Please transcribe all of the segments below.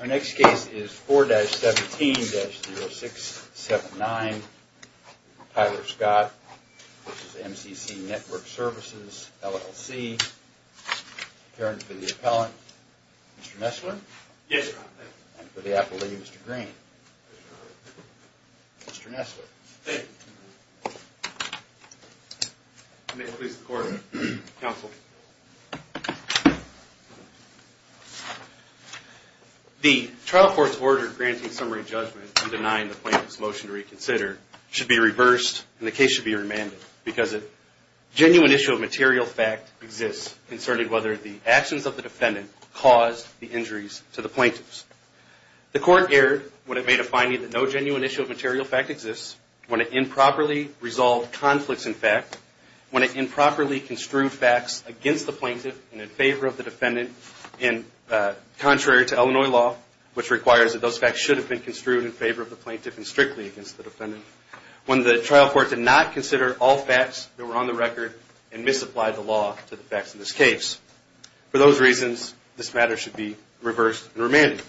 Our next case is 4-17-0679, Tyler Scott. This is MCC Network Services, LLC. The trial court's order granting summary judgment and denying the plaintiff's motion to reconsider should be reversed and the case should be remanded because a genuine issue of material fact exists. The court erred when it made a finding that no genuine issue of material fact exists, when it improperly resolved conflicts in fact, when it improperly construed facts against the plaintiff and in favor of the defendant, and contrary to Illinois law, which requires that those facts should have been construed in favor of the plaintiff and strictly against the defendant, when the trial court did not consider all facts that were on the record and misapplied the law to the facts of the case. For those reasons, this matter should be reversed and remanded.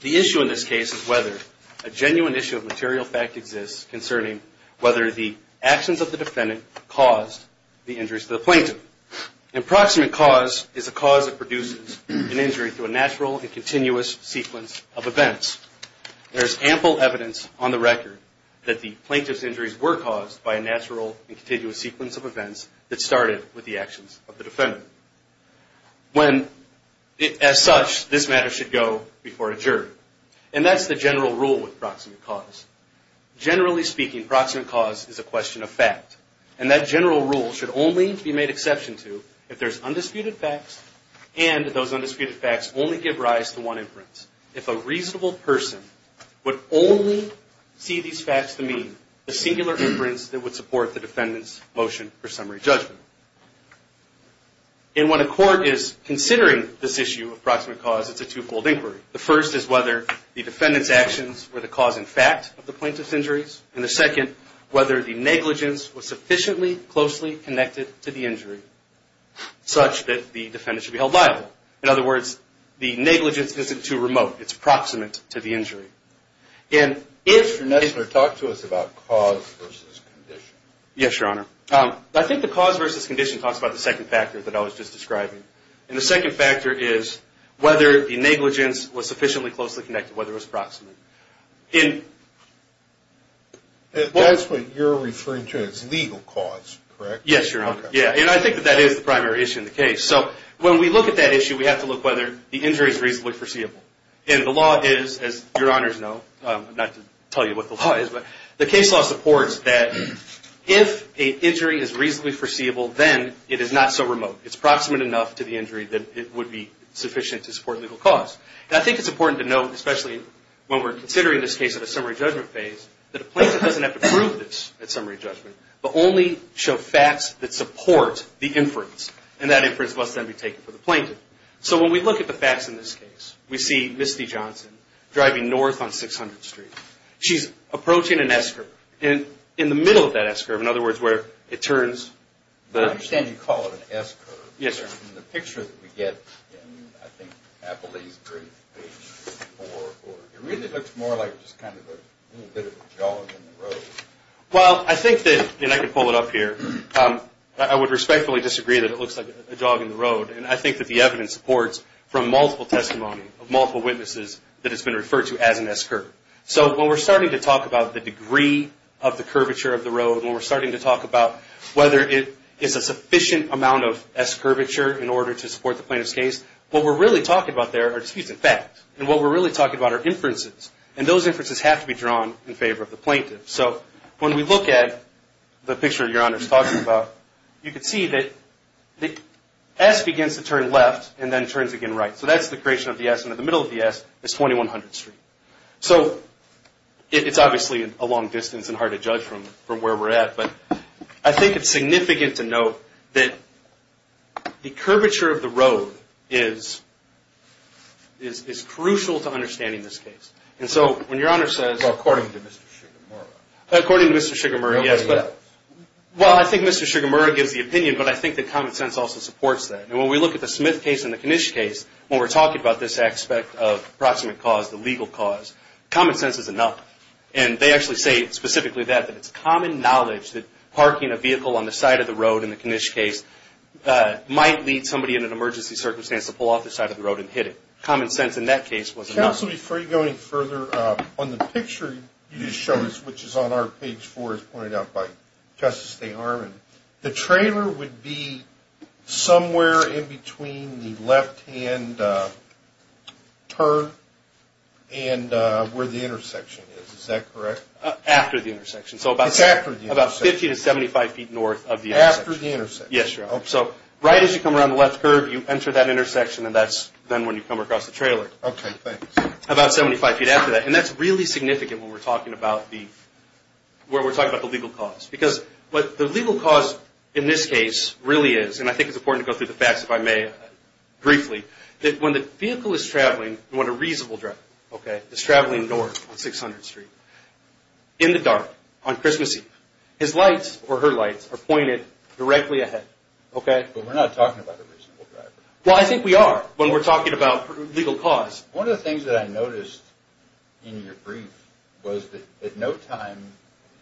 The issue in this case is whether a genuine issue of material fact exists concerning whether the actions of the defendant caused the injuries to the plaintiff. Proximate cause is a cause that produces an injury through a natural and continuous sequence of events. There is ample evidence on the record that the plaintiff's injuries were caused by a natural and continuous sequence of events that started with the actions of the defendant. When, as such, this matter should go before a jury. And that's the general rule with proximate cause. Generally speaking, proximate cause is a question of fact. And that general rule should only be made exception to if there's undisputed facts and those undisputed facts only give rise to one inference. If a reasonable person would only see these facts to mean a singular inference that would support the defendant's motion for summary judgment. In what a court is considering this issue of proximate cause, it's a twofold inquiry. The first is whether the defendant's actions were the cause in fact of the plaintiff's injuries. And the second, whether the negligence was sufficiently closely connected to the injury such that the defendant should be held liable. In other words, the negligence isn't too remote. It's proximate to the injury. And if... Your Honor, talk to us about cause versus condition. Yes, Your Honor. I think the cause versus condition talks about the second factor that I was just describing. And the second factor is whether the negligence was sufficiently closely connected, whether it was proximate. And that's what you're referring to as legal cause, correct? Yes, Your Honor. Okay. Yeah. And I think that that is the primary issue in the case. So when we look at that issue, we have to look whether the injury is reasonably foreseeable. And the law is, as Your Honors know, not to tell you what the law is, but the case law supports that if an injury is reasonably foreseeable, then it is not so remote. It's proximate enough to the injury that it would be sufficient to support legal cause. And I think it's important to note, especially when we're considering this case at a summary judgment phase, that a plaintiff doesn't have to prove this at summary judgment, but only show facts that support the inference. And that inference must then be taken for the plaintiff. So when we look at the facts in this case, we see Misty Johnson driving north on 600th Street. She's approaching an S-curve. And in the middle of that S-curve, in other words, where it turns... I understand you call it an S-curve. Yes, sir. In the picture that we get in, I think, Appalachian Creek, page 4, it really looks more like just kind of a little bit of a jog in the road. Well, I think that, and I can pull it up here, I would respectfully disagree that it looks like a jog in the road. And I think that the evidence supports from multiple testimony of multiple witnesses that it's been referred to as an S-curve. So when we're starting to talk about the degree of the curvature of the road, when we're starting to talk about whether it is a sufficient amount of S-curvature in order to support the plaintiff's case, what we're really talking about there are disputed facts. And what we're really talking about are inferences. And those inferences have to be drawn in favor of the plaintiff. So when we look at the picture Your Honor is talking about, you can see that the S begins to turn left and then turns again right. So that's the creation of the S. And in the middle of the S is 2100th Street. So it's obviously a long distance and hard to judge from where we're at. But I think it's significant to note that the curvature of the road is crucial to understanding this case. And so when Your Honor says... Well, according to Mr. Sugarmurray. According to Mr. Sugarmurray, yes. Nobody else. Well, I think Mr. Sugarmurray gives the opinion, but I think that common sense also supports that. And when we look at the Smith case and the Knish case, when we're talking about this aspect of proximate cause, the legal cause, common sense is enough. And they actually say specifically that, that it's common knowledge that parking a vehicle on the side of the road in the Knish case might lead somebody in an emergency circumstance to pull off the side of the road and hit it. Common sense in that case was enough. Counsel, before you go any further, on the picture you just showed us, which is on our page four, as pointed out by Justice DeArmond, the trailer would be somewhere in between the left-hand curve and where the intersection is. Is that correct? After the intersection. It's after the intersection. So about 50 to 75 feet north of the intersection. After the intersection. Yes, Your Honor. So right as you come around the left curve, you enter that intersection, and that's then when you come across the trailer. Okay, thanks. About 75 feet after that. And that's really significant when we're talking about the legal cause. Because what the legal cause in this case really is, and I think it's important to go through the facts if I may briefly, that when the vehicle is traveling, when a reasonable driver is traveling north on 600th Street, in the dark on Christmas Eve, his lights or her lights are pointed directly ahead. But we're not talking about a reasonable driver. Well, I think we are when we're talking about legal cause. One of the things that I noticed in your brief was that at no time,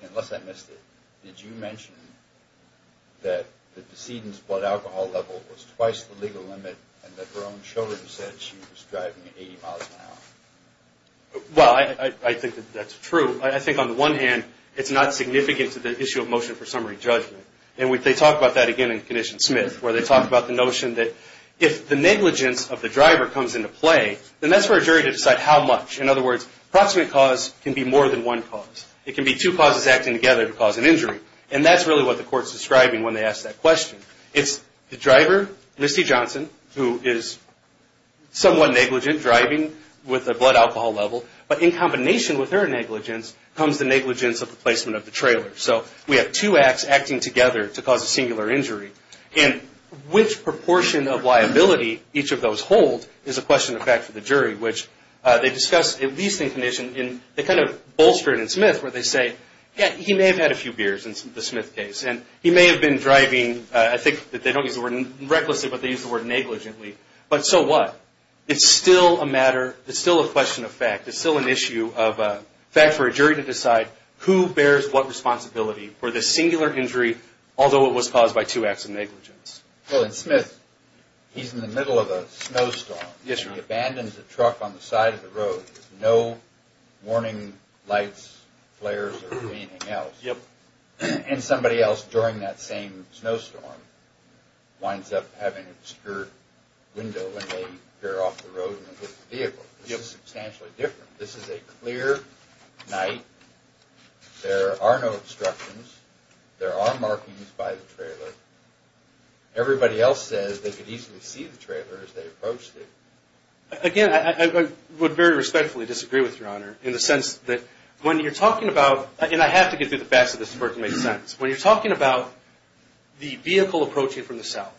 unless I missed it, did you mention that the decedent's blood alcohol level was twice the legal limit and that her own children said she was driving at 80 miles an hour? Well, I think that that's true. I think on the one hand, it's not significant to the issue of motion for summary judgment. And they talk about that again in Condition Smith, where they talk about the notion that if the negligence of the driver comes into play, then that's for a jury to decide how much. In other words, approximate cause can be more than one cause. It can be two causes acting together to cause an injury. And that's really what the court's describing when they ask that question. It's the driver, Misty Johnson, who is somewhat negligent driving with a blood alcohol level, but in combination with her negligence comes the negligence of the placement of the trailer. So we have two acts acting together to cause a singular injury. And which proportion of liability each of those hold is a question of fact for the jury, which they discuss at least in Condition. They kind of bolster it in Smith, where they say, yeah, he may have had a few beers in the Smith case, and he may have been driving, I think that they don't use the word recklessly, but they use the word negligently. But so what? It's still a matter, it's still a question of fact. It's still an issue of fact for a jury to decide who bears what responsibility for the singular injury, although it was caused by two acts of negligence. Well, in Smith, he's in the middle of a snowstorm. Yes, sir. He abandons the truck on the side of the road. There's no warning lights, flares, or anything else. Yep. And somebody else during that same snowstorm winds up having a skirt window when they veer off the road and hit the vehicle. This is substantially different. This is a clear night. There are no obstructions. There are markings by the trailer. Everybody else says they could easily see the trailer as they approached it. Again, I would very respectfully disagree with Your Honor in the sense that when you're talking about, and I have to get through the facts of this in order to make sense, when you're talking about the vehicle approaching from the south,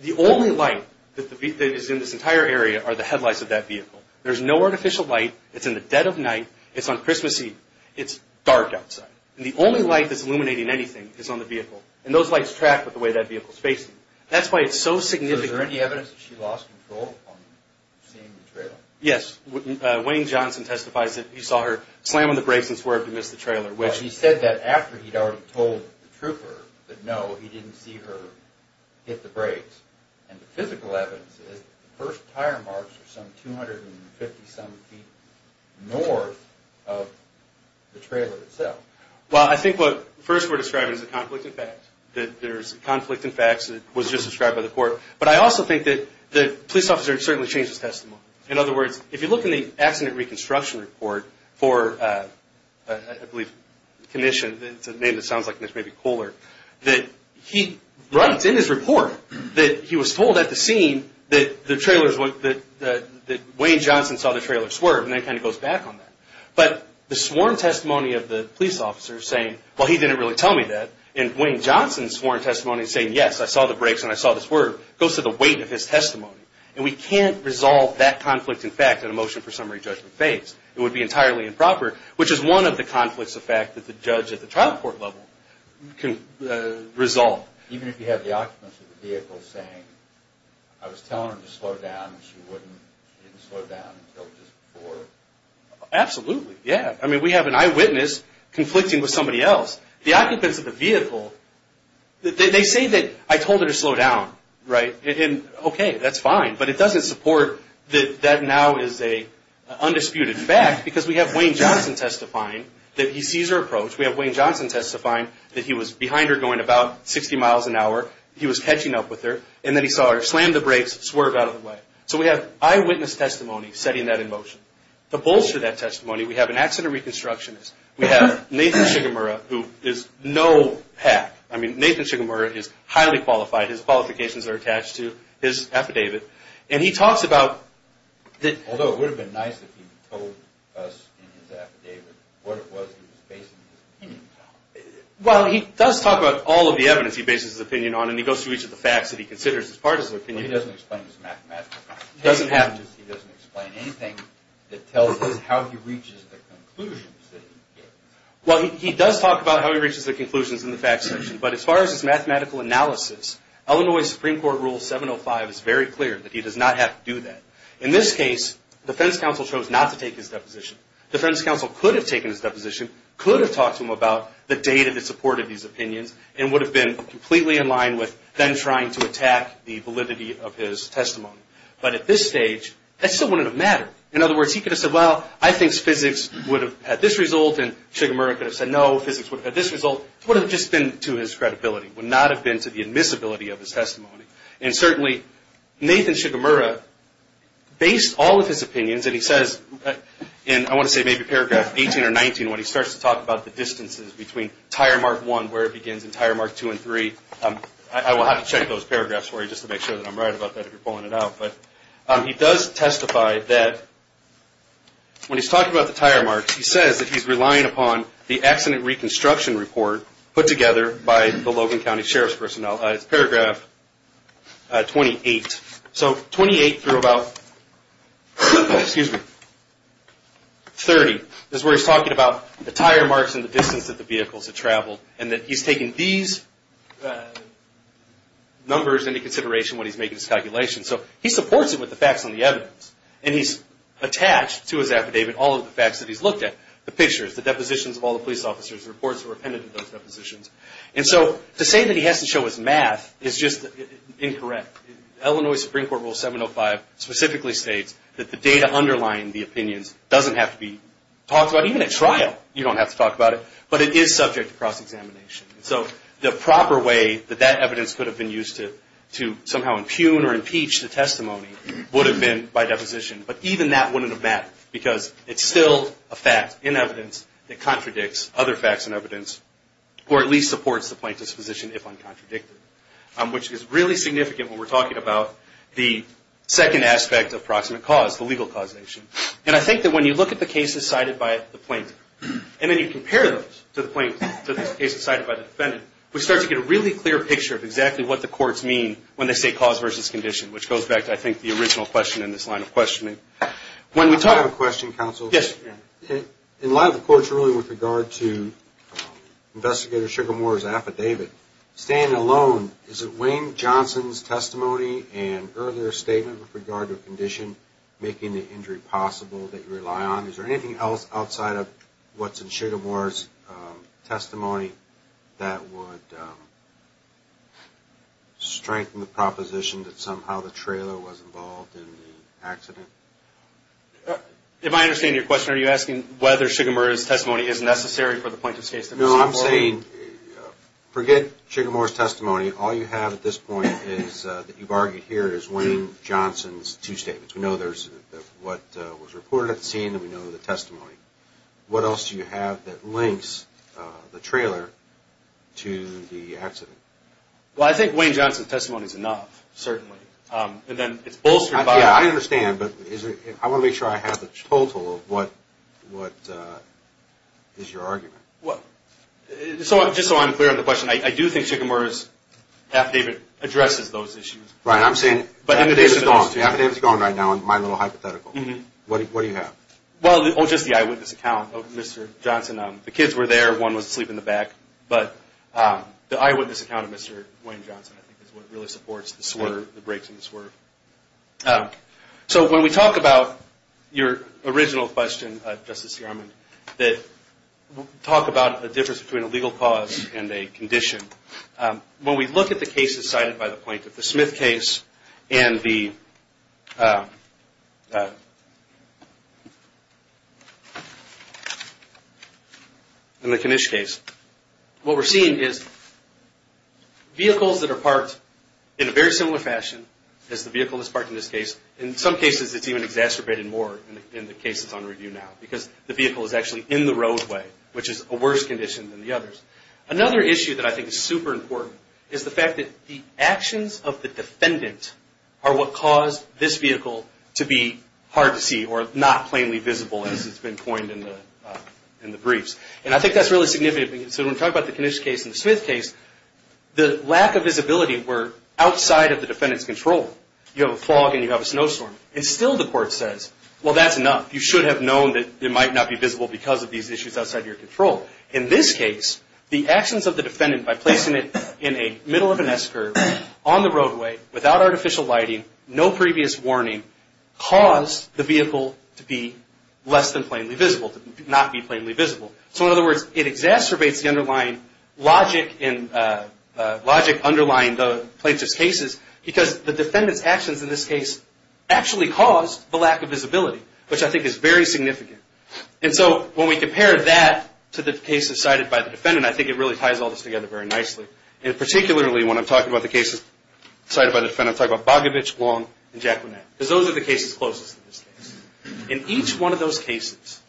the only light that is in this entire area are the headlights of that vehicle. There's no artificial light. It's in the dead of night. It's on Christmas Eve. It's dark outside. The only light that's illuminating anything is on the vehicle, and those lights track with the way that vehicle is facing. That's why it's so significant. Was there any evidence that she lost control on seeing the trailer? Yes. Wayne Johnson testifies that he saw her slam on the brakes and swerve to miss the trailer. He said that after he'd already told the trooper that, no, he didn't see her hit the brakes. And the physical evidence is the first tire marks are some 250-some feet north of the trailer itself. Well, I think what first we're describing is a conflict in facts, that there's a conflict in facts that was just described by the court. But I also think that the police officer certainly changed his testimony. In other words, if you look in the accident reconstruction report for, I believe, it's a name that sounds like it may be cooler, that he writes in his report that he was told at the scene that Wayne Johnson saw the trailer swerve, and then kind of goes back on that. But the sworn testimony of the police officer saying, well, he didn't really tell me that, and Wayne Johnson's sworn testimony saying, yes, I saw the brakes and I saw the swerve, goes to the weight of his testimony. And we can't resolve that conflict in fact in a motion for summary judgment case. It would be entirely improper, which is one of the conflicts of fact that the judge at the trial court level can resolve. Even if you have the occupants of the vehicle saying, I was telling her to slow down, and she wouldn't, she didn't slow down until just before? Absolutely, yeah. I mean, we have an eyewitness conflicting with somebody else. The occupants of the vehicle, they say that I told her to slow down, right? And okay, that's fine, but it doesn't support that that now is an undisputed fact, because we have Wayne Johnson testifying that he sees her approach. We have Wayne Johnson testifying that he was behind her going about 60 miles an hour. He was catching up with her, and then he saw her slam the brakes, swerve out of the way. So we have eyewitness testimony setting that in motion. To bolster that testimony, we have an accident reconstructionist. We have Nathan Shigemura, who is no hack. I mean, Nathan Shigemura is highly qualified. His qualifications are attached to his affidavit. And he talks about that. Although it would have been nice if he told us in his affidavit what it was he was basing his opinion on. Well, he does talk about all of the evidence he bases his opinion on, and he goes through each of the facts that he considers as part of his opinion. He doesn't explain his mathematical contentions. He doesn't explain anything that tells us how he reaches the conclusions that he gave. Well, he does talk about how he reaches the conclusions in the facts section, but as far as his mathematical analysis, Illinois Supreme Court Rule 705 is very clear that he does not have to do that. In this case, defense counsel chose not to take his deposition. Defense counsel could have taken his deposition, could have talked to him about the data that supported his opinions, and would have been completely in line with then trying to attack the validity of his testimony. But at this stage, that still wouldn't have mattered. In other words, he could have said, well, I think physics would have had this result, and Shigemura could have said, no, physics would have had this result. It would have just been to his credibility, would not have been to the admissibility of his testimony. And certainly, Nathan Shigemura based all of his opinions, and he says, and I want to say maybe paragraph 18 or 19 when he starts to talk about the distances between tire mark 1, where it begins, and tire mark 2 and 3. I will have to check those paragraphs for you just to make sure that I'm right about that if you're pulling it out. But he does testify that when he's talking about the tire marks, he says that he's relying upon the accident reconstruction report put together by the Logan County Sheriff's personnel. It's paragraph 28. So 28 through about 30 is where he's talking about the tire marks and the distance that the vehicles had traveled, and that he's taking these numbers into consideration when he's making his calculations. So he supports it with the facts and the evidence, and he's attached to his affidavit all of the facts that he's looked at, the pictures, the depositions of all the police officers, the reports that were appended to those depositions. And so to say that he has to show his math is just incorrect. Illinois Supreme Court Rule 705 specifically states that the data underlying the opinions doesn't have to be talked about. Even at trial, you don't have to talk about it, but it is subject to cross-examination. So the proper way that that evidence could have been used to somehow impugn or impeach the testimony would have been by deposition. But even that wouldn't have mattered because it's still a fact in evidence that contradicts other facts in evidence, or at least supports the plaintiff's position if uncontradicted, which is really significant when we're talking about the second aspect of proximate cause, the legal causation. And I think that when you look at the cases cited by the plaintiff, and then you compare those to the cases cited by the defendant, we start to get a really clear picture of exactly what the courts mean when they say cause versus condition, which goes back to, I think, the original question in this line of questioning. When we talk... I have a question, counsel. Yes. In light of the court's ruling with regard to Investigator Sugarmore's affidavit, standing alone, is it Wayne Johnson's testimony and earlier statement with regard to a condition making the injury possible that you rely on? Is there anything else outside of what's in Sugarmore's testimony that would strengthen the proposition that somehow the trailer was involved in the accident? If I understand your question, are you asking whether Sugarmore's testimony is necessary for the plaintiff's case? No, I'm saying forget Sugarmore's testimony. All you have at this point is that you've argued here is Wayne Johnson's two statements. We know there's what was reported at the scene, and we know the testimony. What else do you have that links the trailer to the accident? Well, I think Wayne Johnson's testimony is enough, certainly. And then it's bolstered by... Yeah, I understand, but I want to make sure I have the total of what is your argument. Just so I'm clear on the question, I do think Sugarmore's affidavit addresses those issues. Right, I'm saying... The affidavit's gone right now in my little hypothetical. What do you have? Well, just the eyewitness account of Mr. Johnson. The kids were there. One was asleep in the back. But the eyewitness account of Mr. Wayne Johnson, I think, is what really supports the swerve, the breaks in the swerve. So when we talk about your original question, Justice Garmon, that we'll talk about the difference between a legal cause and a condition. When we look at the cases cited by the plaintiff, the Smith case and the Kanish case, what we're seeing is vehicles that are parked in a very similar fashion as the vehicle that's parked in this case, in some cases it's even exacerbated more in the case that's under review now, because the vehicle is actually in the roadway, which is a worse condition than the others. Another issue that I think is super important is the fact that the actions of the defendant are what caused this vehicle to be hard to see or not plainly visible, as has been coined in the briefs. And I think that's really significant. So when we talk about the Kanish case and the Smith case, the lack of visibility were outside of the defendant's control. You have a fog and you have a snowstorm. And still the court says, well, that's enough. You should have known that it might not be visible because of these issues outside of your control. In this case, the actions of the defendant by placing it in the middle of an S-curve on the roadway without artificial lighting, no previous warning, caused the vehicle to be less than plainly visible, to not be plainly visible. So in other words, it exacerbates the logic underlying the plaintiff's cases because the defendant's actions in this case actually caused the lack of visibility, which I think is very significant. And so when we compare that to the cases cited by the defendant, I think it really ties all this together very nicely. And particularly when I'm talking about the cases cited by the defendant, I'm talking about Bogovich, Long, and Jacquelet. Because those are the cases closest to this case. In each one of those cases,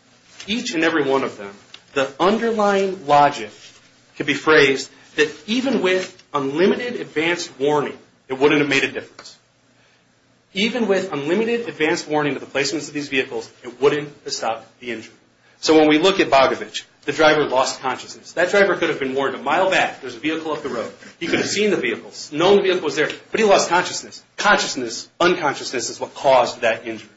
each and every one of them, the underlying logic could be phrased that even with unlimited advanced warning, it wouldn't have made a difference. Even with unlimited advanced warning of the placements of these vehicles, it wouldn't have stopped the injury. So when we look at Bogovich, the driver lost consciousness. That driver could have been warned a mile back, there's a vehicle up the road. He could have seen the vehicles, known the vehicle was there, but he lost consciousness. Consciousness, unconsciousness is what caused that injury.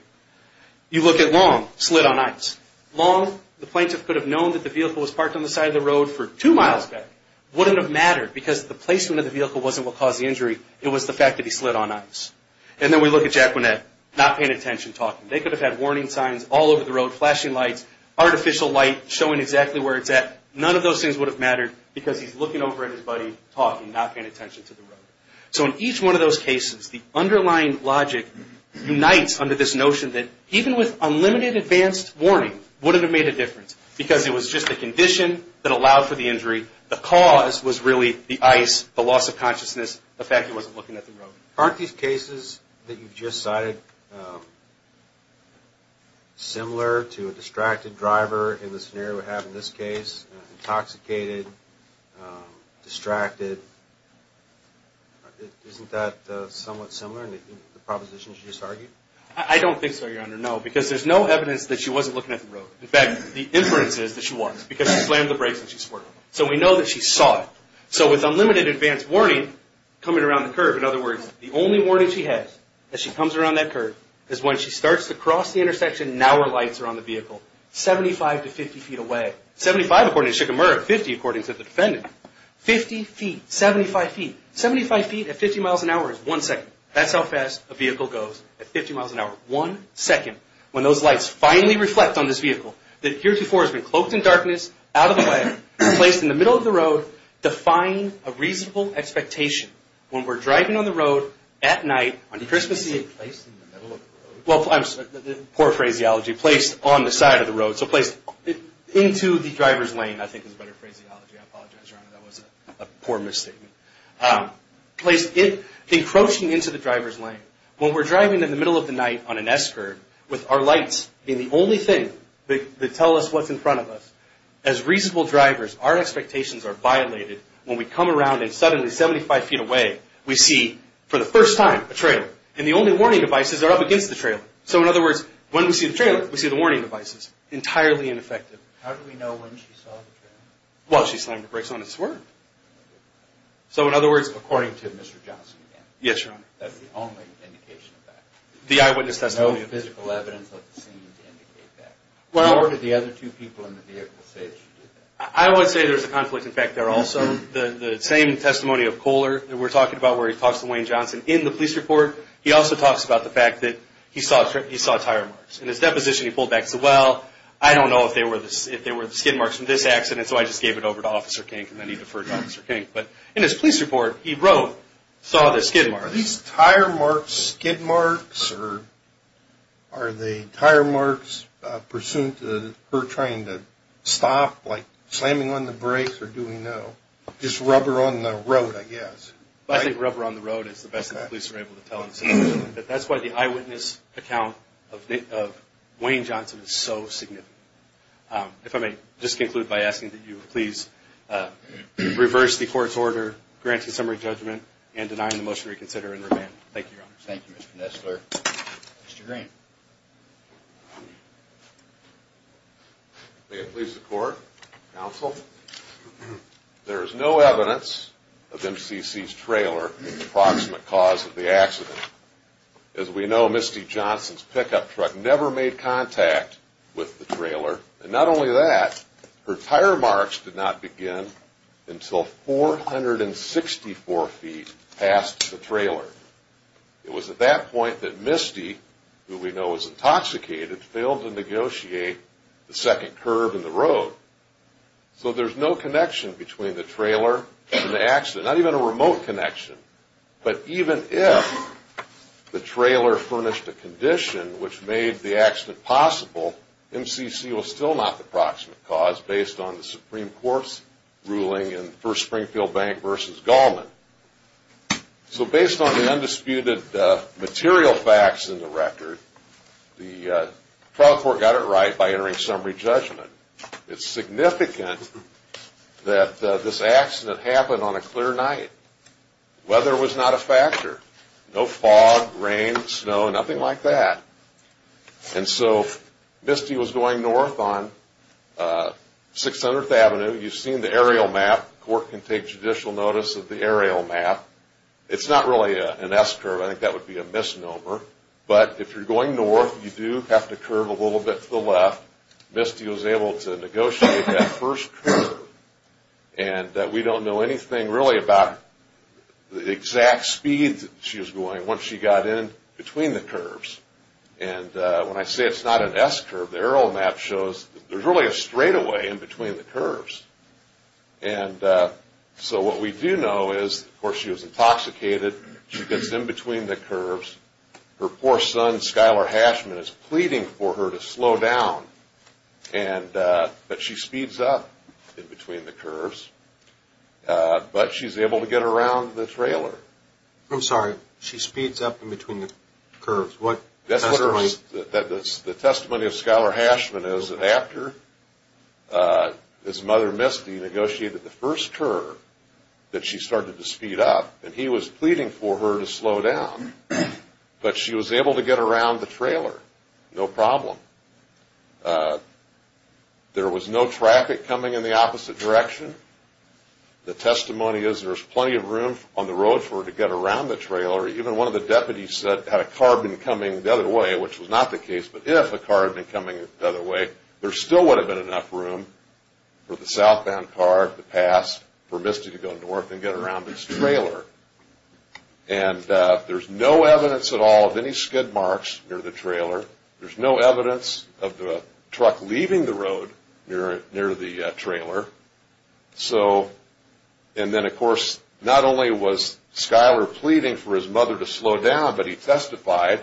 You look at Long, slid on ice. Long, the plaintiff could have known that the vehicle was parked on the side of the road for two miles back. Wouldn't have mattered because the placement of the vehicle wasn't what caused the injury. It was the fact that he slid on ice. And then we look at Jacquelet, not paying attention, talking. They could have had warning signs all over the road, flashing lights, artificial light showing exactly where it's at. None of those things would have mattered because he's looking over at his buddy, talking, not paying attention to the road. So in each one of those cases, the underlying logic unites under this notion that even with unlimited advanced warning, it wouldn't have made a difference because it was just the condition that allowed for the injury. The cause was really the ice, the loss of consciousness, the fact he wasn't looking at the road. Aren't these cases that you've just cited similar to a distracted driver in the scenario we have in this case? Intoxicated, distracted. Isn't that somewhat similar in the propositions you just argued? I don't think so, Your Honor. No, because there's no evidence that she wasn't looking at the road. In fact, the inference is that she was because she slammed the brakes and she swerved. So we know that she saw it. So with unlimited advanced warning coming around the curve, in other words, the only warning she has as she comes around that curve is when she starts to cross the intersection, now her lights are on the vehicle, 75 to 50 feet away. Seventy-five, according to Shigemura, 50, according to the defendant. Fifty feet, 75 feet. Seventy-five feet at 50 miles an hour is one second. That's how fast a vehicle goes at 50 miles an hour, one second. When those lights finally reflect on this vehicle, that heretofore has been cloaked in darkness, out of the way, placed in the middle of the road, defying a reasonable expectation when we're driving on the road at night on Christmas Eve. Placed in the middle of the road? Well, poor phraseology. Placed on the side of the road. So placed into the driver's lane, I think is a better phraseology. I apologize, Your Honor. That was a poor misstatement. Placed in, encroaching into the driver's lane. When we're driving in the middle of the night on an S curve, with our lights being the only thing that tell us what's in front of us, as reasonable drivers, our expectations are violated when we come around and suddenly, 75 feet away, we see, for the first time, a trailer. And the only warning devices are up against the trailer. So, in other words, when we see the trailer, we see the warning devices. Entirely ineffective. How do we know when she saw the trailer? Well, she slammed the brakes on it and swerved. So, in other words, according to Mr. Johnson. Yes, Your Honor. That's the only indication of that. The eyewitness testimony. No physical evidence of the scene to indicate that. Nor did the other two people in the vehicle say that she did that. I would say there's a conflict of fact there also. The same testimony of Kohler that we're talking about, where he talks to Wayne Johnson in the police report, he also talks about the fact that he saw tire marks. In his deposition, he pulled back and said, well, I don't know if they were the skin marks from this accident, so I just gave it over to Officer Kink, and then he deferred to Officer Kink. But in his police report, he wrote, saw the skin marks. Are these tire marks skin marks, or are the tire marks pursuant to her trying to stop, like slamming on the brakes, or do we know? Just rubber on the road, I guess. I think rubber on the road is the best the police are able to tell us. But that's why the eyewitness account of Wayne Johnson is so significant. If I may just conclude by asking that you please reverse the court's order, grant a summary judgment, and deny the motion to reconsider and remand. Thank you, Your Honor. Thank you, Mr. Nestler. Mr. Green. May it please the Court, Counsel, there is no evidence of MCC's trailer in the proximate cause of the accident. As we know, Misty Johnson's pickup truck never made contact with the trailer. And not only that, her tire marks did not begin until 464 feet past the trailer. It was at that point that Misty, who we know was intoxicated, failed to negotiate the second curb in the road. So there's no connection between the trailer and the accident, not even a remote connection. But even if the trailer furnished a condition which made the accident possible, MCC was still not the proximate cause, based on the Supreme Court's ruling in First Springfield Bank v. Goldman. So based on the undisputed material facts in the record, the trial court got it right by entering summary judgment. It's significant that this accident happened on a clear night. The weather was not a factor. No fog, rain, snow, nothing like that. And so Misty was going north on 600th Avenue. You've seen the aerial map. The Court can take judicial notice of the aerial map. It's not really an S-curve. I think that would be a misnomer. But if you're going north, you do have to curve a little bit to the left. Misty was able to negotiate that first curb. And we don't know anything really about the exact speed she was going once she got in between the curbs. And when I say it's not an S-curve, the aerial map shows there's really a straightaway in between the curbs. And so what we do know is, of course, she was intoxicated. She gets in between the curbs. Her poor son, Skyler Hashman, is pleading for her to slow down. But she speeds up in between the curbs. But she's able to get around the trailer. I'm sorry. She speeds up in between the curbs. What testimony? The testimony of Skyler Hashman is that after his mother, Misty, negotiated the first curb, that she started to speed up. And he was pleading for her to slow down. But she was able to get around the trailer. No problem. There was no traffic coming in the opposite direction. The testimony is there's plenty of room on the road for her to get around the trailer. Even one of the deputies said had a car been coming the other way, which was not the case, but if a car had been coming the other way, there still would have been enough room for the southbound car to pass, for Misty to go north and get around this trailer. And there's no evidence at all of any skid marks near the trailer. There's no evidence of the truck leaving the road near the trailer. And then, of course, not only was Skyler pleading for his mother to slow down, but he testified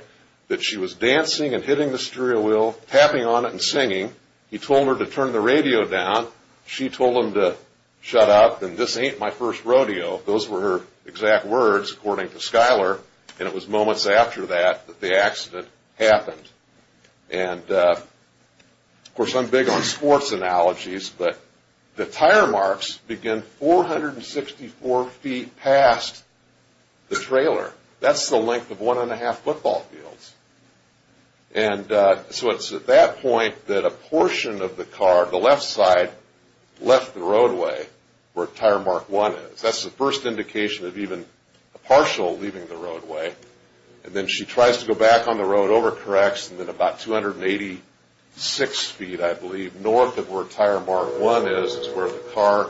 that she was dancing and hitting the steering wheel, tapping on it and singing. He told her to turn the radio down. She told him to shut up and this ain't my first rodeo. Those were her exact words, according to Skyler, and it was moments after that that the accident happened. And, of course, I'm big on sports analogies, but the tire marks begin 464 feet past the trailer. That's the length of one and a half football fields. And so it's at that point that a portion of the car, the left side, left the roadway where tire mark one is. That's the first indication of even a partial leaving the roadway. And then she tries to go back on the road, overcorrects, and then about 286 feet, I believe, north of where tire mark one is is where the car,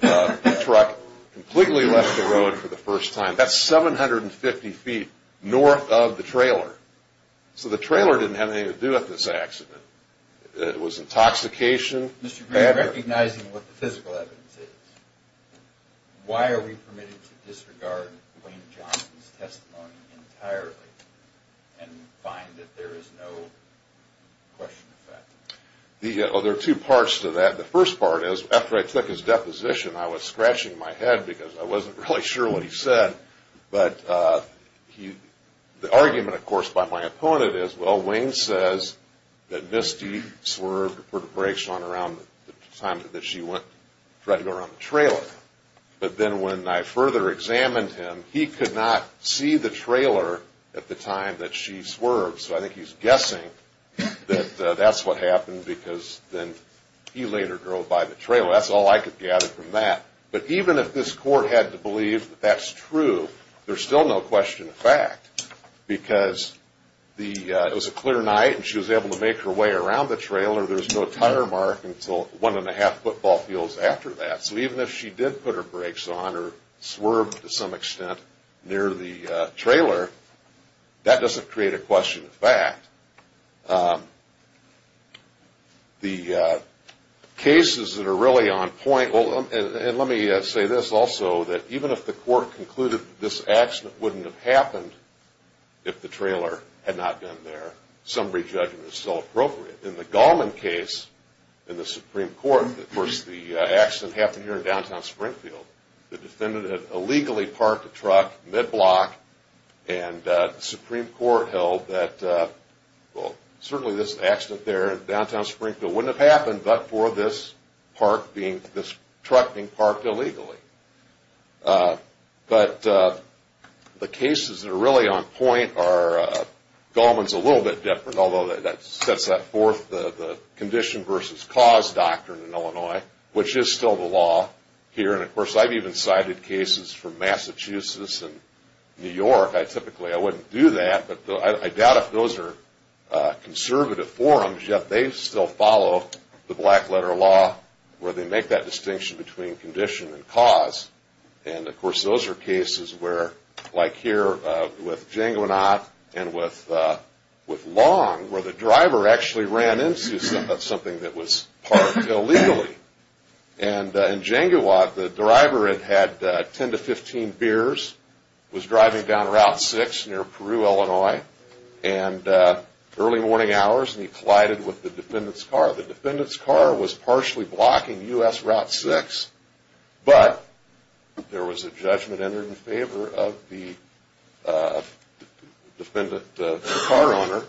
the truck, completely left the road for the first time. That's 750 feet north of the trailer. So the trailer didn't have anything to do with this accident. It was intoxication. Mr. Green, recognizing what the physical evidence is, why are we permitted to disregard Wayne Johnson's testimony entirely and find that there is no question of fact? There are two parts to that. The first part is, after I took his deposition, I was scratching my head because I wasn't really sure what he said. But the argument, of course, by my opponent is, well, Wayne says that Misty swerved or put a brake on around the time that she went to try to go around the trailer. But then when I further examined him, he could not see the trailer at the time that she swerved. So I think he's guessing that that's what happened because then he later drove by the trailer. That's all I could gather from that. But even if this court had to believe that that's true, there's still no question of fact because it was a clear night and she was able to make her way around the trailer. There's no tire mark until one-and-a-half football fields after that. So even if she did put her brakes on or swerved to some extent near the trailer, that doesn't create a question of fact. The cases that are really on point, and let me say this also, that even if the court concluded that this accident wouldn't have happened if the trailer had not been there, some re-judgment is still appropriate. In the Gallman case in the Supreme Court, of course the accident happened here in downtown Springfield. The defendant had illegally parked a truck mid-block and the Supreme Court held that, well, certainly this accident there in downtown Springfield wouldn't have happened but for this truck being parked illegally. But the cases that are really on point are Gallman's a little bit different, although that sets forth the condition versus cause doctrine in Illinois, which is still the law here. And of course I've even cited cases from Massachusetts and New York. Typically I wouldn't do that, but I doubt if those are conservative forums, yet they still follow the black-letter law where they make that distinction between condition and cause. And of course those are cases where, like here with Jango and Ott and with Long, where the driver actually ran into something that was parked illegally. And in Jango and Ott, the driver had had 10 to 15 beers, was driving down Route 6 near Peru, Illinois, and early morning hours he collided with the defendant's car. The defendant's car was partially blocking U.S. Route 6, but there was a judgment entered in favor of the defendant, the car owner,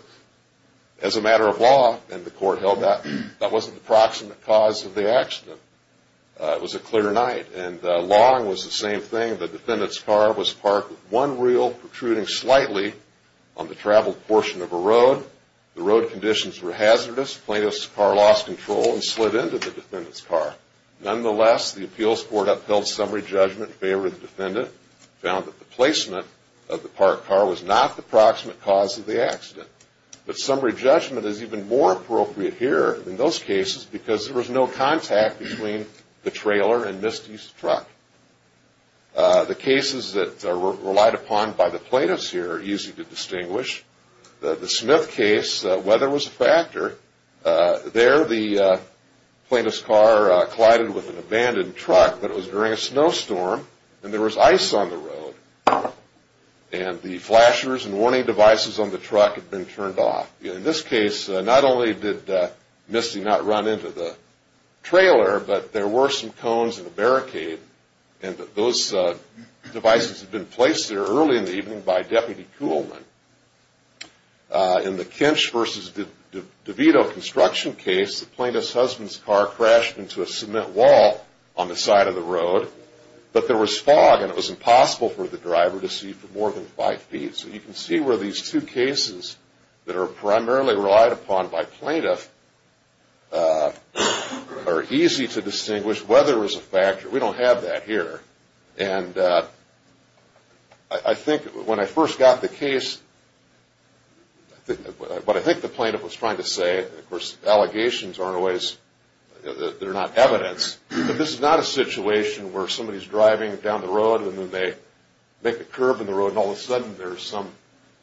as a matter of law, and the court held that that wasn't the proximate cause of the accident. It was a clear night, and Long was the same thing. The defendant's car was parked with one wheel protruding slightly on the traveled portion of a road. The road conditions were hazardous. Plaintiff's car lost control and slid into the defendant's car. Nonetheless, the appeals court upheld summary judgment in favor of the defendant, found that the placement of the parked car was not the proximate cause of the accident. But summary judgment is even more appropriate here in those cases because there was no contact between the trailer and Misty's truck. The cases that were relied upon by the plaintiffs here are easy to distinguish. The Smith case, weather was a factor. There the plaintiff's car collided with an abandoned truck, but it was during a snowstorm and there was ice on the road, and the flashers and warning devices on the truck had been turned off. In this case, not only did Misty not run into the trailer, but there were some cones and a barricade, and those devices had been placed there early in the evening by Deputy Kuhlman. In the Kinch v. DeVito construction case, the plaintiff's husband's car crashed into a cement wall on the side of the road, but there was fog and it was impossible for the driver to see for more than five feet. So you can see where these two cases that are primarily relied upon by plaintiffs are easy to distinguish. Weather was a factor. We don't have that here. And I think when I first got the case, what I think the plaintiff was trying to say, and, of course, allegations are in ways that are not evidence, but this is not a situation where somebody is driving down the road and then they make a curve in the road and all of a sudden there's some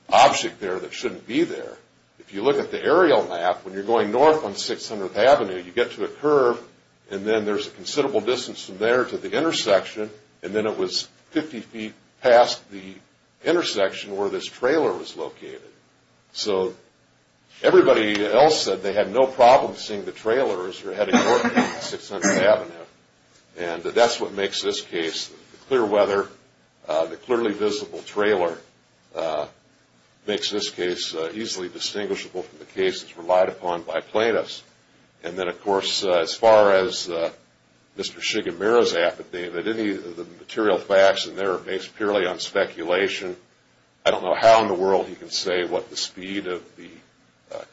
object there that shouldn't be there. If you look at the aerial map, when you're going north on 600th Avenue, you get to a curve and then there's a considerable distance from there to the intersection, and then it was 50 feet past the intersection where this trailer was located. So everybody else said they had no problem seeing the trailers heading north on 600th Avenue, and that's what makes this case, the clear weather, the clearly visible trailer, makes this case easily distinguishable from the cases relied upon by plaintiffs. And then, of course, as far as Mr. Shigemura's affidavit, any of the material facts in there are based purely on speculation. I don't know how in the world he can say what the speed of the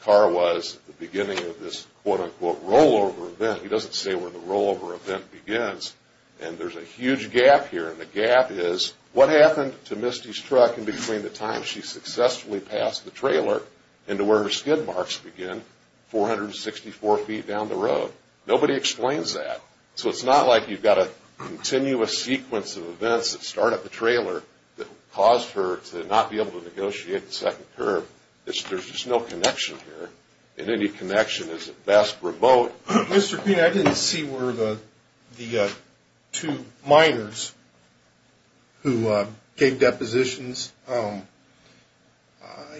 car was at the beginning of this quote, unquote, rollover event. He doesn't say where the rollover event begins, and there's a huge gap here, and the gap is what happened to Misty's truck in between the time she successfully passed the trailer and to where her skid marks begin, 464 feet down the road. Nobody explains that. So it's not like you've got a continuous sequence of events that start at the trailer that caused her to not be able to negotiate the second curve. There's just no connection here, and any connection is at best remote. Mr. Green, I didn't see where the two minors who gave depositions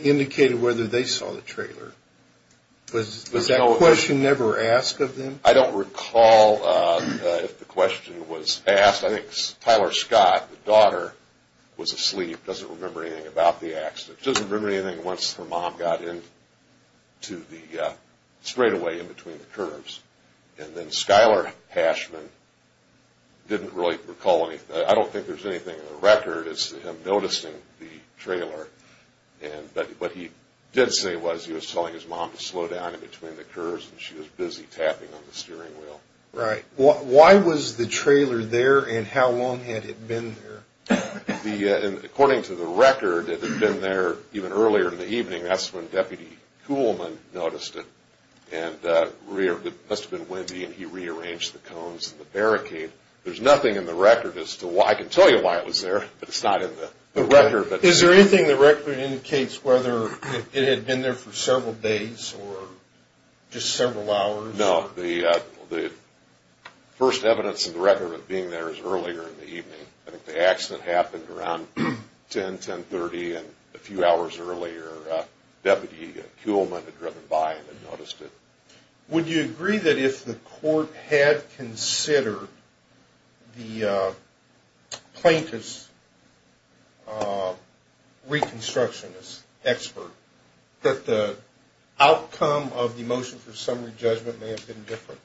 indicated whether they saw the trailer. Was that question never asked of them? I don't recall if the question was asked. I think Tyler Scott, the daughter, was asleep, doesn't remember anything about the accident. She doesn't remember anything once her mom got into the straightaway in between the curves, and then Skyler Hashman didn't really recall anything. I don't think there's anything in the record as to him noticing the trailer, but what he did say was he was telling his mom to slow down in between the curves, and she was busy tapping on the steering wheel. Right. Why was the trailer there, and how long had it been there? According to the record, it had been there even earlier in the evening. That's when Deputy Kuhlman noticed it, and it must have been windy, and he rearranged the cones and the barricade. There's nothing in the record as to why. I can tell you why it was there, but it's not in the record. Is there anything in the record that indicates whether it had been there for several days or just several hours? No. The first evidence in the record of it being there is earlier in the evening. I think the accident happened around 10, 10.30 and a few hours earlier. Deputy Kuhlman had driven by and had noticed it. Would you agree that if the court had considered the plaintiff's reconstructionist expert, that the outcome of the motion for summary judgment may have been different?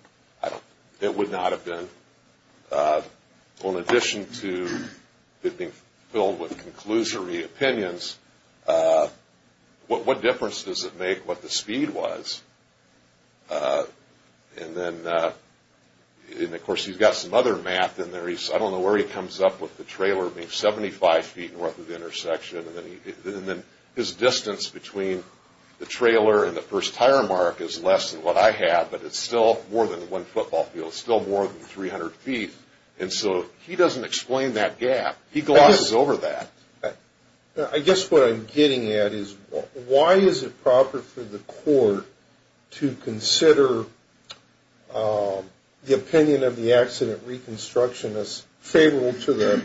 It would not have been. Well, in addition to it being filled with conclusory opinions, what difference does it make what the speed was? And then, of course, he's got some other math in there. I don't know where he comes up with the trailer being 75 feet north of the intersection, and then his distance between the trailer and the first tire mark is less than what I have, but it's still more than one football field. It's still more than 300 feet. And so he doesn't explain that gap. He glosses over that. I guess what I'm getting at is why is it proper for the court to consider the opinion of the accident reconstructionist favorable to the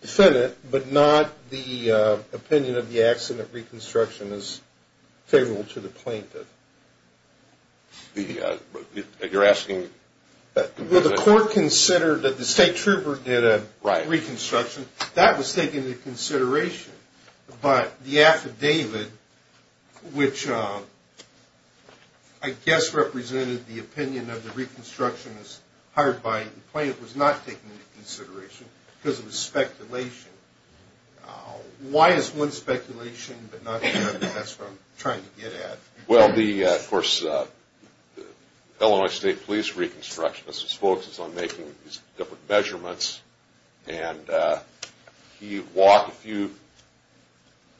defendant but not the opinion of the accident reconstructionist favorable to the plaintiff? You're asking? Well, the court considered that the state trooper did a reconstruction. That was taken into consideration, but the affidavit, which I guess represented the opinion of the reconstructionist hired by the plaintiff, was not taken into consideration because it was speculation. Why is one speculation but not the other? That's what I'm trying to get at. Well, of course, the Illinois State Police reconstructionist was focused on making these different measurements, and he walked a few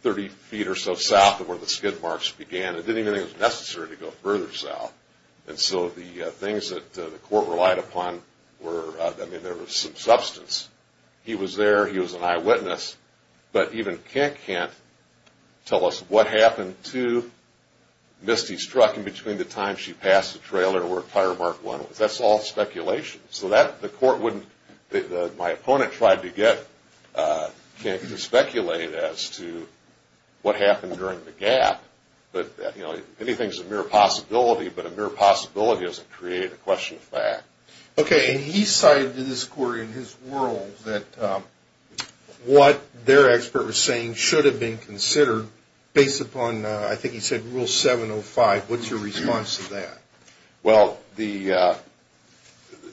30 feet or so south of where the skid marks began and didn't even think it was necessary to go further south. And so the things that the court relied upon were, I mean, there was some substance. He was there. He was an eyewitness. But even Kent can't tell us what happened to Misty's truck in between the time she passed the trailer or a fire marked one. That's all speculation. So my opponent tried to get Kent to speculate as to what happened during the gap. But anything's a mere possibility, but a mere possibility doesn't create a question of fact. Okay, and he cited to this court in his world that what their expert was saying should have been considered based upon, I think he said, Rule 705. What's your response to that? Well,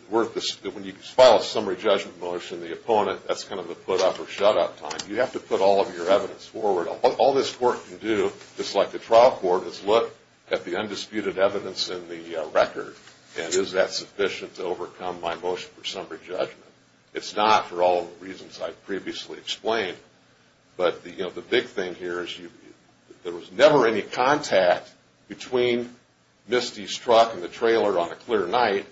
when you file a summary judgment motion, the opponent, that's kind of a put-up-or-shut-up time. You have to put all of your evidence forward. All this court can do, just like the trial court, is look at the undisputed evidence in the record and is that sufficient to overcome my motion for summary judgment. It's not for all the reasons I previously explained. But the big thing here is there was never any contact between Misty's truck and the trailer on a clear night,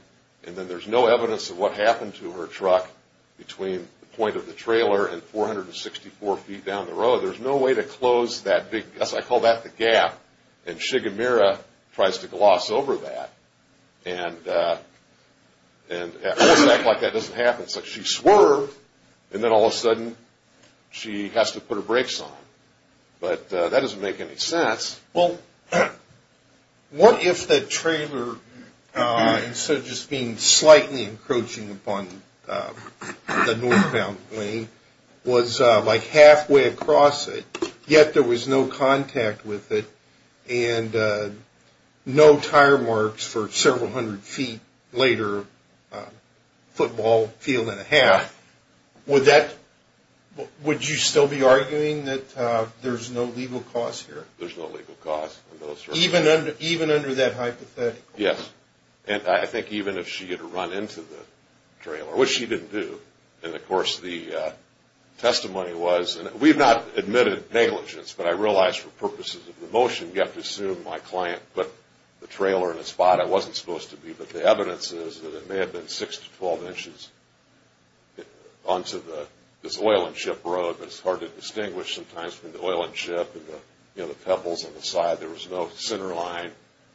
and then there's no evidence of what happened to her truck between the point of the trailer and 464 feet down the road. So there's no way to close that big, as I call that, the gap, and Shigemura tries to gloss over that. And at full stack like that, it doesn't happen. It's like she swerved, and then all of a sudden she has to put her brakes on. But that doesn't make any sense. Well, what if the trailer, instead of just being slightly encroaching upon the northbound lane, was like halfway across it, yet there was no contact with it and no tire marks for several hundred feet later, football field and a half? Would you still be arguing that there's no legal cause here? There's no legal cause in those circumstances. Even under that hypothetical? Yes. And I think even if she had run into the trailer, which she didn't do, and of course the testimony was, and we've not admitted negligence, but I realize for purposes of the motion, you have to assume my client put the trailer in a spot I wasn't supposed to be, but the evidence is that it may have been 6 to 12 inches onto this oil and chip road, but it's hard to distinguish sometimes between the oil and chip and the pebbles on the side. There was no center line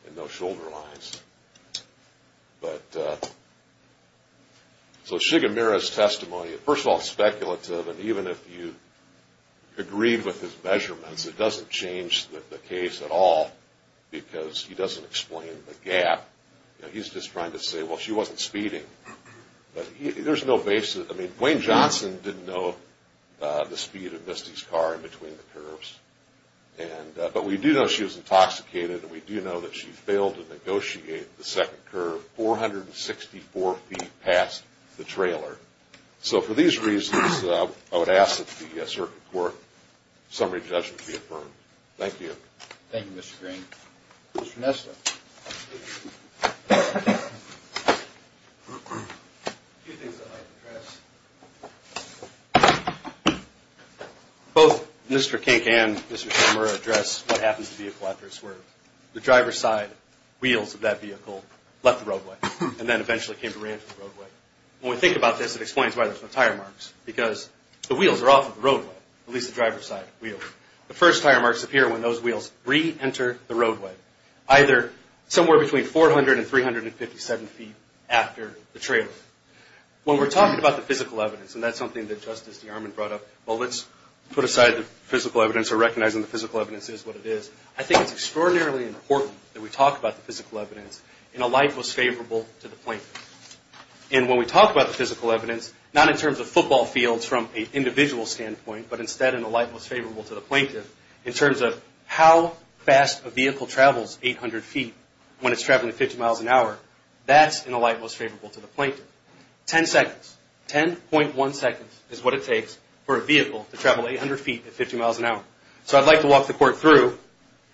and no shoulder lines. So Shigemura's testimony, first of all, speculative, and even if you agreed with his measurements, it doesn't change the case at all because he doesn't explain the gap. He's just trying to say, well, she wasn't speeding. There's no basis. I mean, Wayne Johnson didn't know the speed of Misty's car in between the curves, but we do know she was intoxicated and we do know that she failed to negotiate the second curve, 464 feet past the trailer. So for these reasons, I would ask that the circuit court summary judgment be affirmed. Thank you. Thank you, Mr. Green. Mr. Nesta. A few things I'd like to address. Both Mr. Kink and Mr. Shigemura address what happens to the vehicle after a swerve. The driver's side wheels of that vehicle left the roadway and then eventually came to reenter the roadway. When we think about this, it explains why there's no tire marks because the wheels are off of the roadway, at least the driver's side wheel. The first tire marks appear when those wheels reenter the roadway, either somewhere between 400 and 357 feet after the trailer. When we're talking about the physical evidence, and that's something that Justice DeArmond brought up, well, let's put aside the physical evidence or recognizing the physical evidence is what it is. I think it's extraordinarily important that we talk about the physical evidence in a light that was favorable to the plaintiff. And when we talk about the physical evidence, not in terms of football fields from an individual standpoint, but instead in a light that was favorable to the plaintiff, in terms of how fast a vehicle travels 800 feet when it's traveling at 50 miles an hour, that's in a light that was favorable to the plaintiff. Ten seconds, 10.1 seconds is what it takes for a vehicle to travel 800 feet at 50 miles an hour. So I'd like to walk the Court through,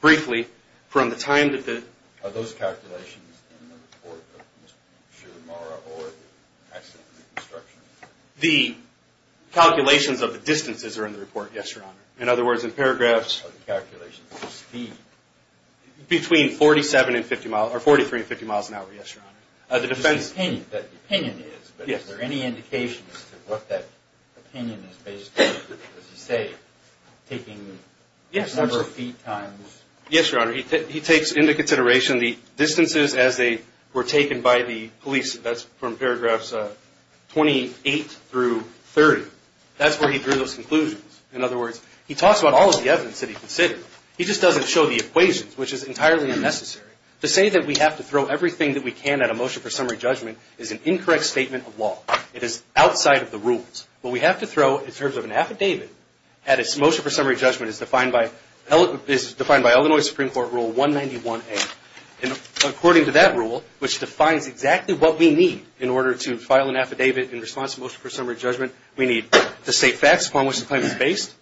briefly, from the time that the... Are those calculations in the report of Mr. Shigemura or the accident reconstruction? The calculations of the distances are in the report, yes, Your Honor. In other words, in paragraphs... Are the calculations of speed? Between 47 and 50 miles, or 43 and 50 miles an hour, yes, Your Honor. The defense... The opinion is, but is there any indication as to what that opinion is based on? Does he say taking a number of feet times... Yes, Your Honor. He takes into consideration the distances as they were taken by the police. That's from paragraphs 28 through 30. That's where he drew those conclusions. In other words, he talks about all of the evidence that he considered. He just doesn't show the equations, which is entirely unnecessary. To say that we have to throw everything that we can at a motion for summary judgment is an incorrect statement of law. It is outside of the rules. What we have to throw in terms of an affidavit at a motion for summary judgment is defined by Illinois Supreme Court Rule 191A. According to that rule, which defines exactly what we need in order to file an affidavit in response to a motion for summary judgment, we need to state facts upon which the claim is based.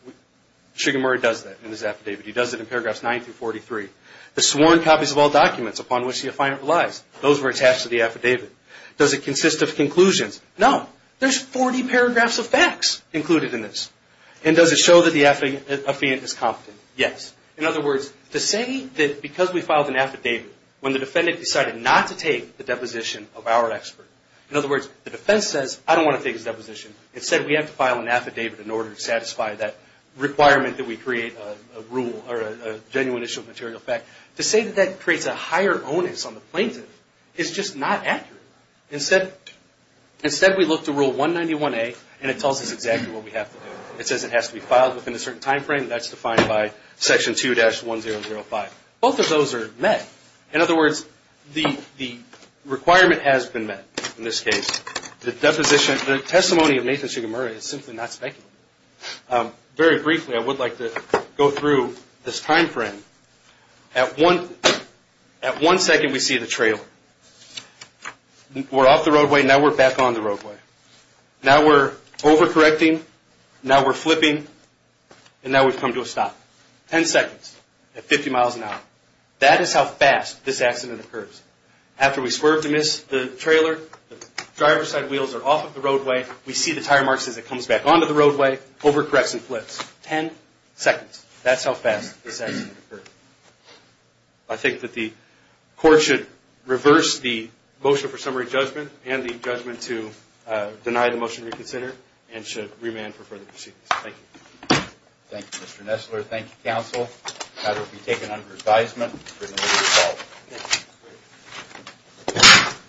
Trigger Murray does that in his affidavit. He does it in paragraphs 9 through 43. The sworn copies of all documents upon which the affidavit relies. Those were attached to the affidavit. Does it consist of conclusions? No. There's 40 paragraphs of facts included in this. And does it show that the affidavit is competent? Yes. In other words, to say that because we filed an affidavit when the defendant decided not to take the deposition of our expert... In other words, the defense says, I don't want to take his deposition. Instead, we have to file an affidavit in order to satisfy that requirement that we create a rule or a genuine issue of material fact. To say that that creates a higher onus on the plaintiff is just not accurate. Instead, we look to Rule 191A, and it tells us exactly what we have to do. It says it has to be filed within a certain timeframe, and that's defined by Section 2-1005. Both of those are met. In other words, the requirement has been met. In this case, the testimony of Nathan Sugimura is simply not speculative. Very briefly, I would like to go through this timeframe. At one second, we see the trailer. We're off the roadway, and now we're back on the roadway. Now we're overcorrecting, now we're flipping, and now we've come to a stop. Ten seconds at 50 miles an hour. That is how fast this accident occurs. After we swerve to miss the trailer, the driver's side wheels are off of the roadway. We see the tire marks as it comes back onto the roadway. Overcorrects and flips. Ten seconds. That's how fast this accident occurred. I think that the court should reverse the motion for summary judgment and the judgment to deny the motion to reconsider and should remand for further proceedings. Thank you. Thank you, Mr. Nestler. Thank you, counsel. The matter will be taken under advisement for the middle of the fall.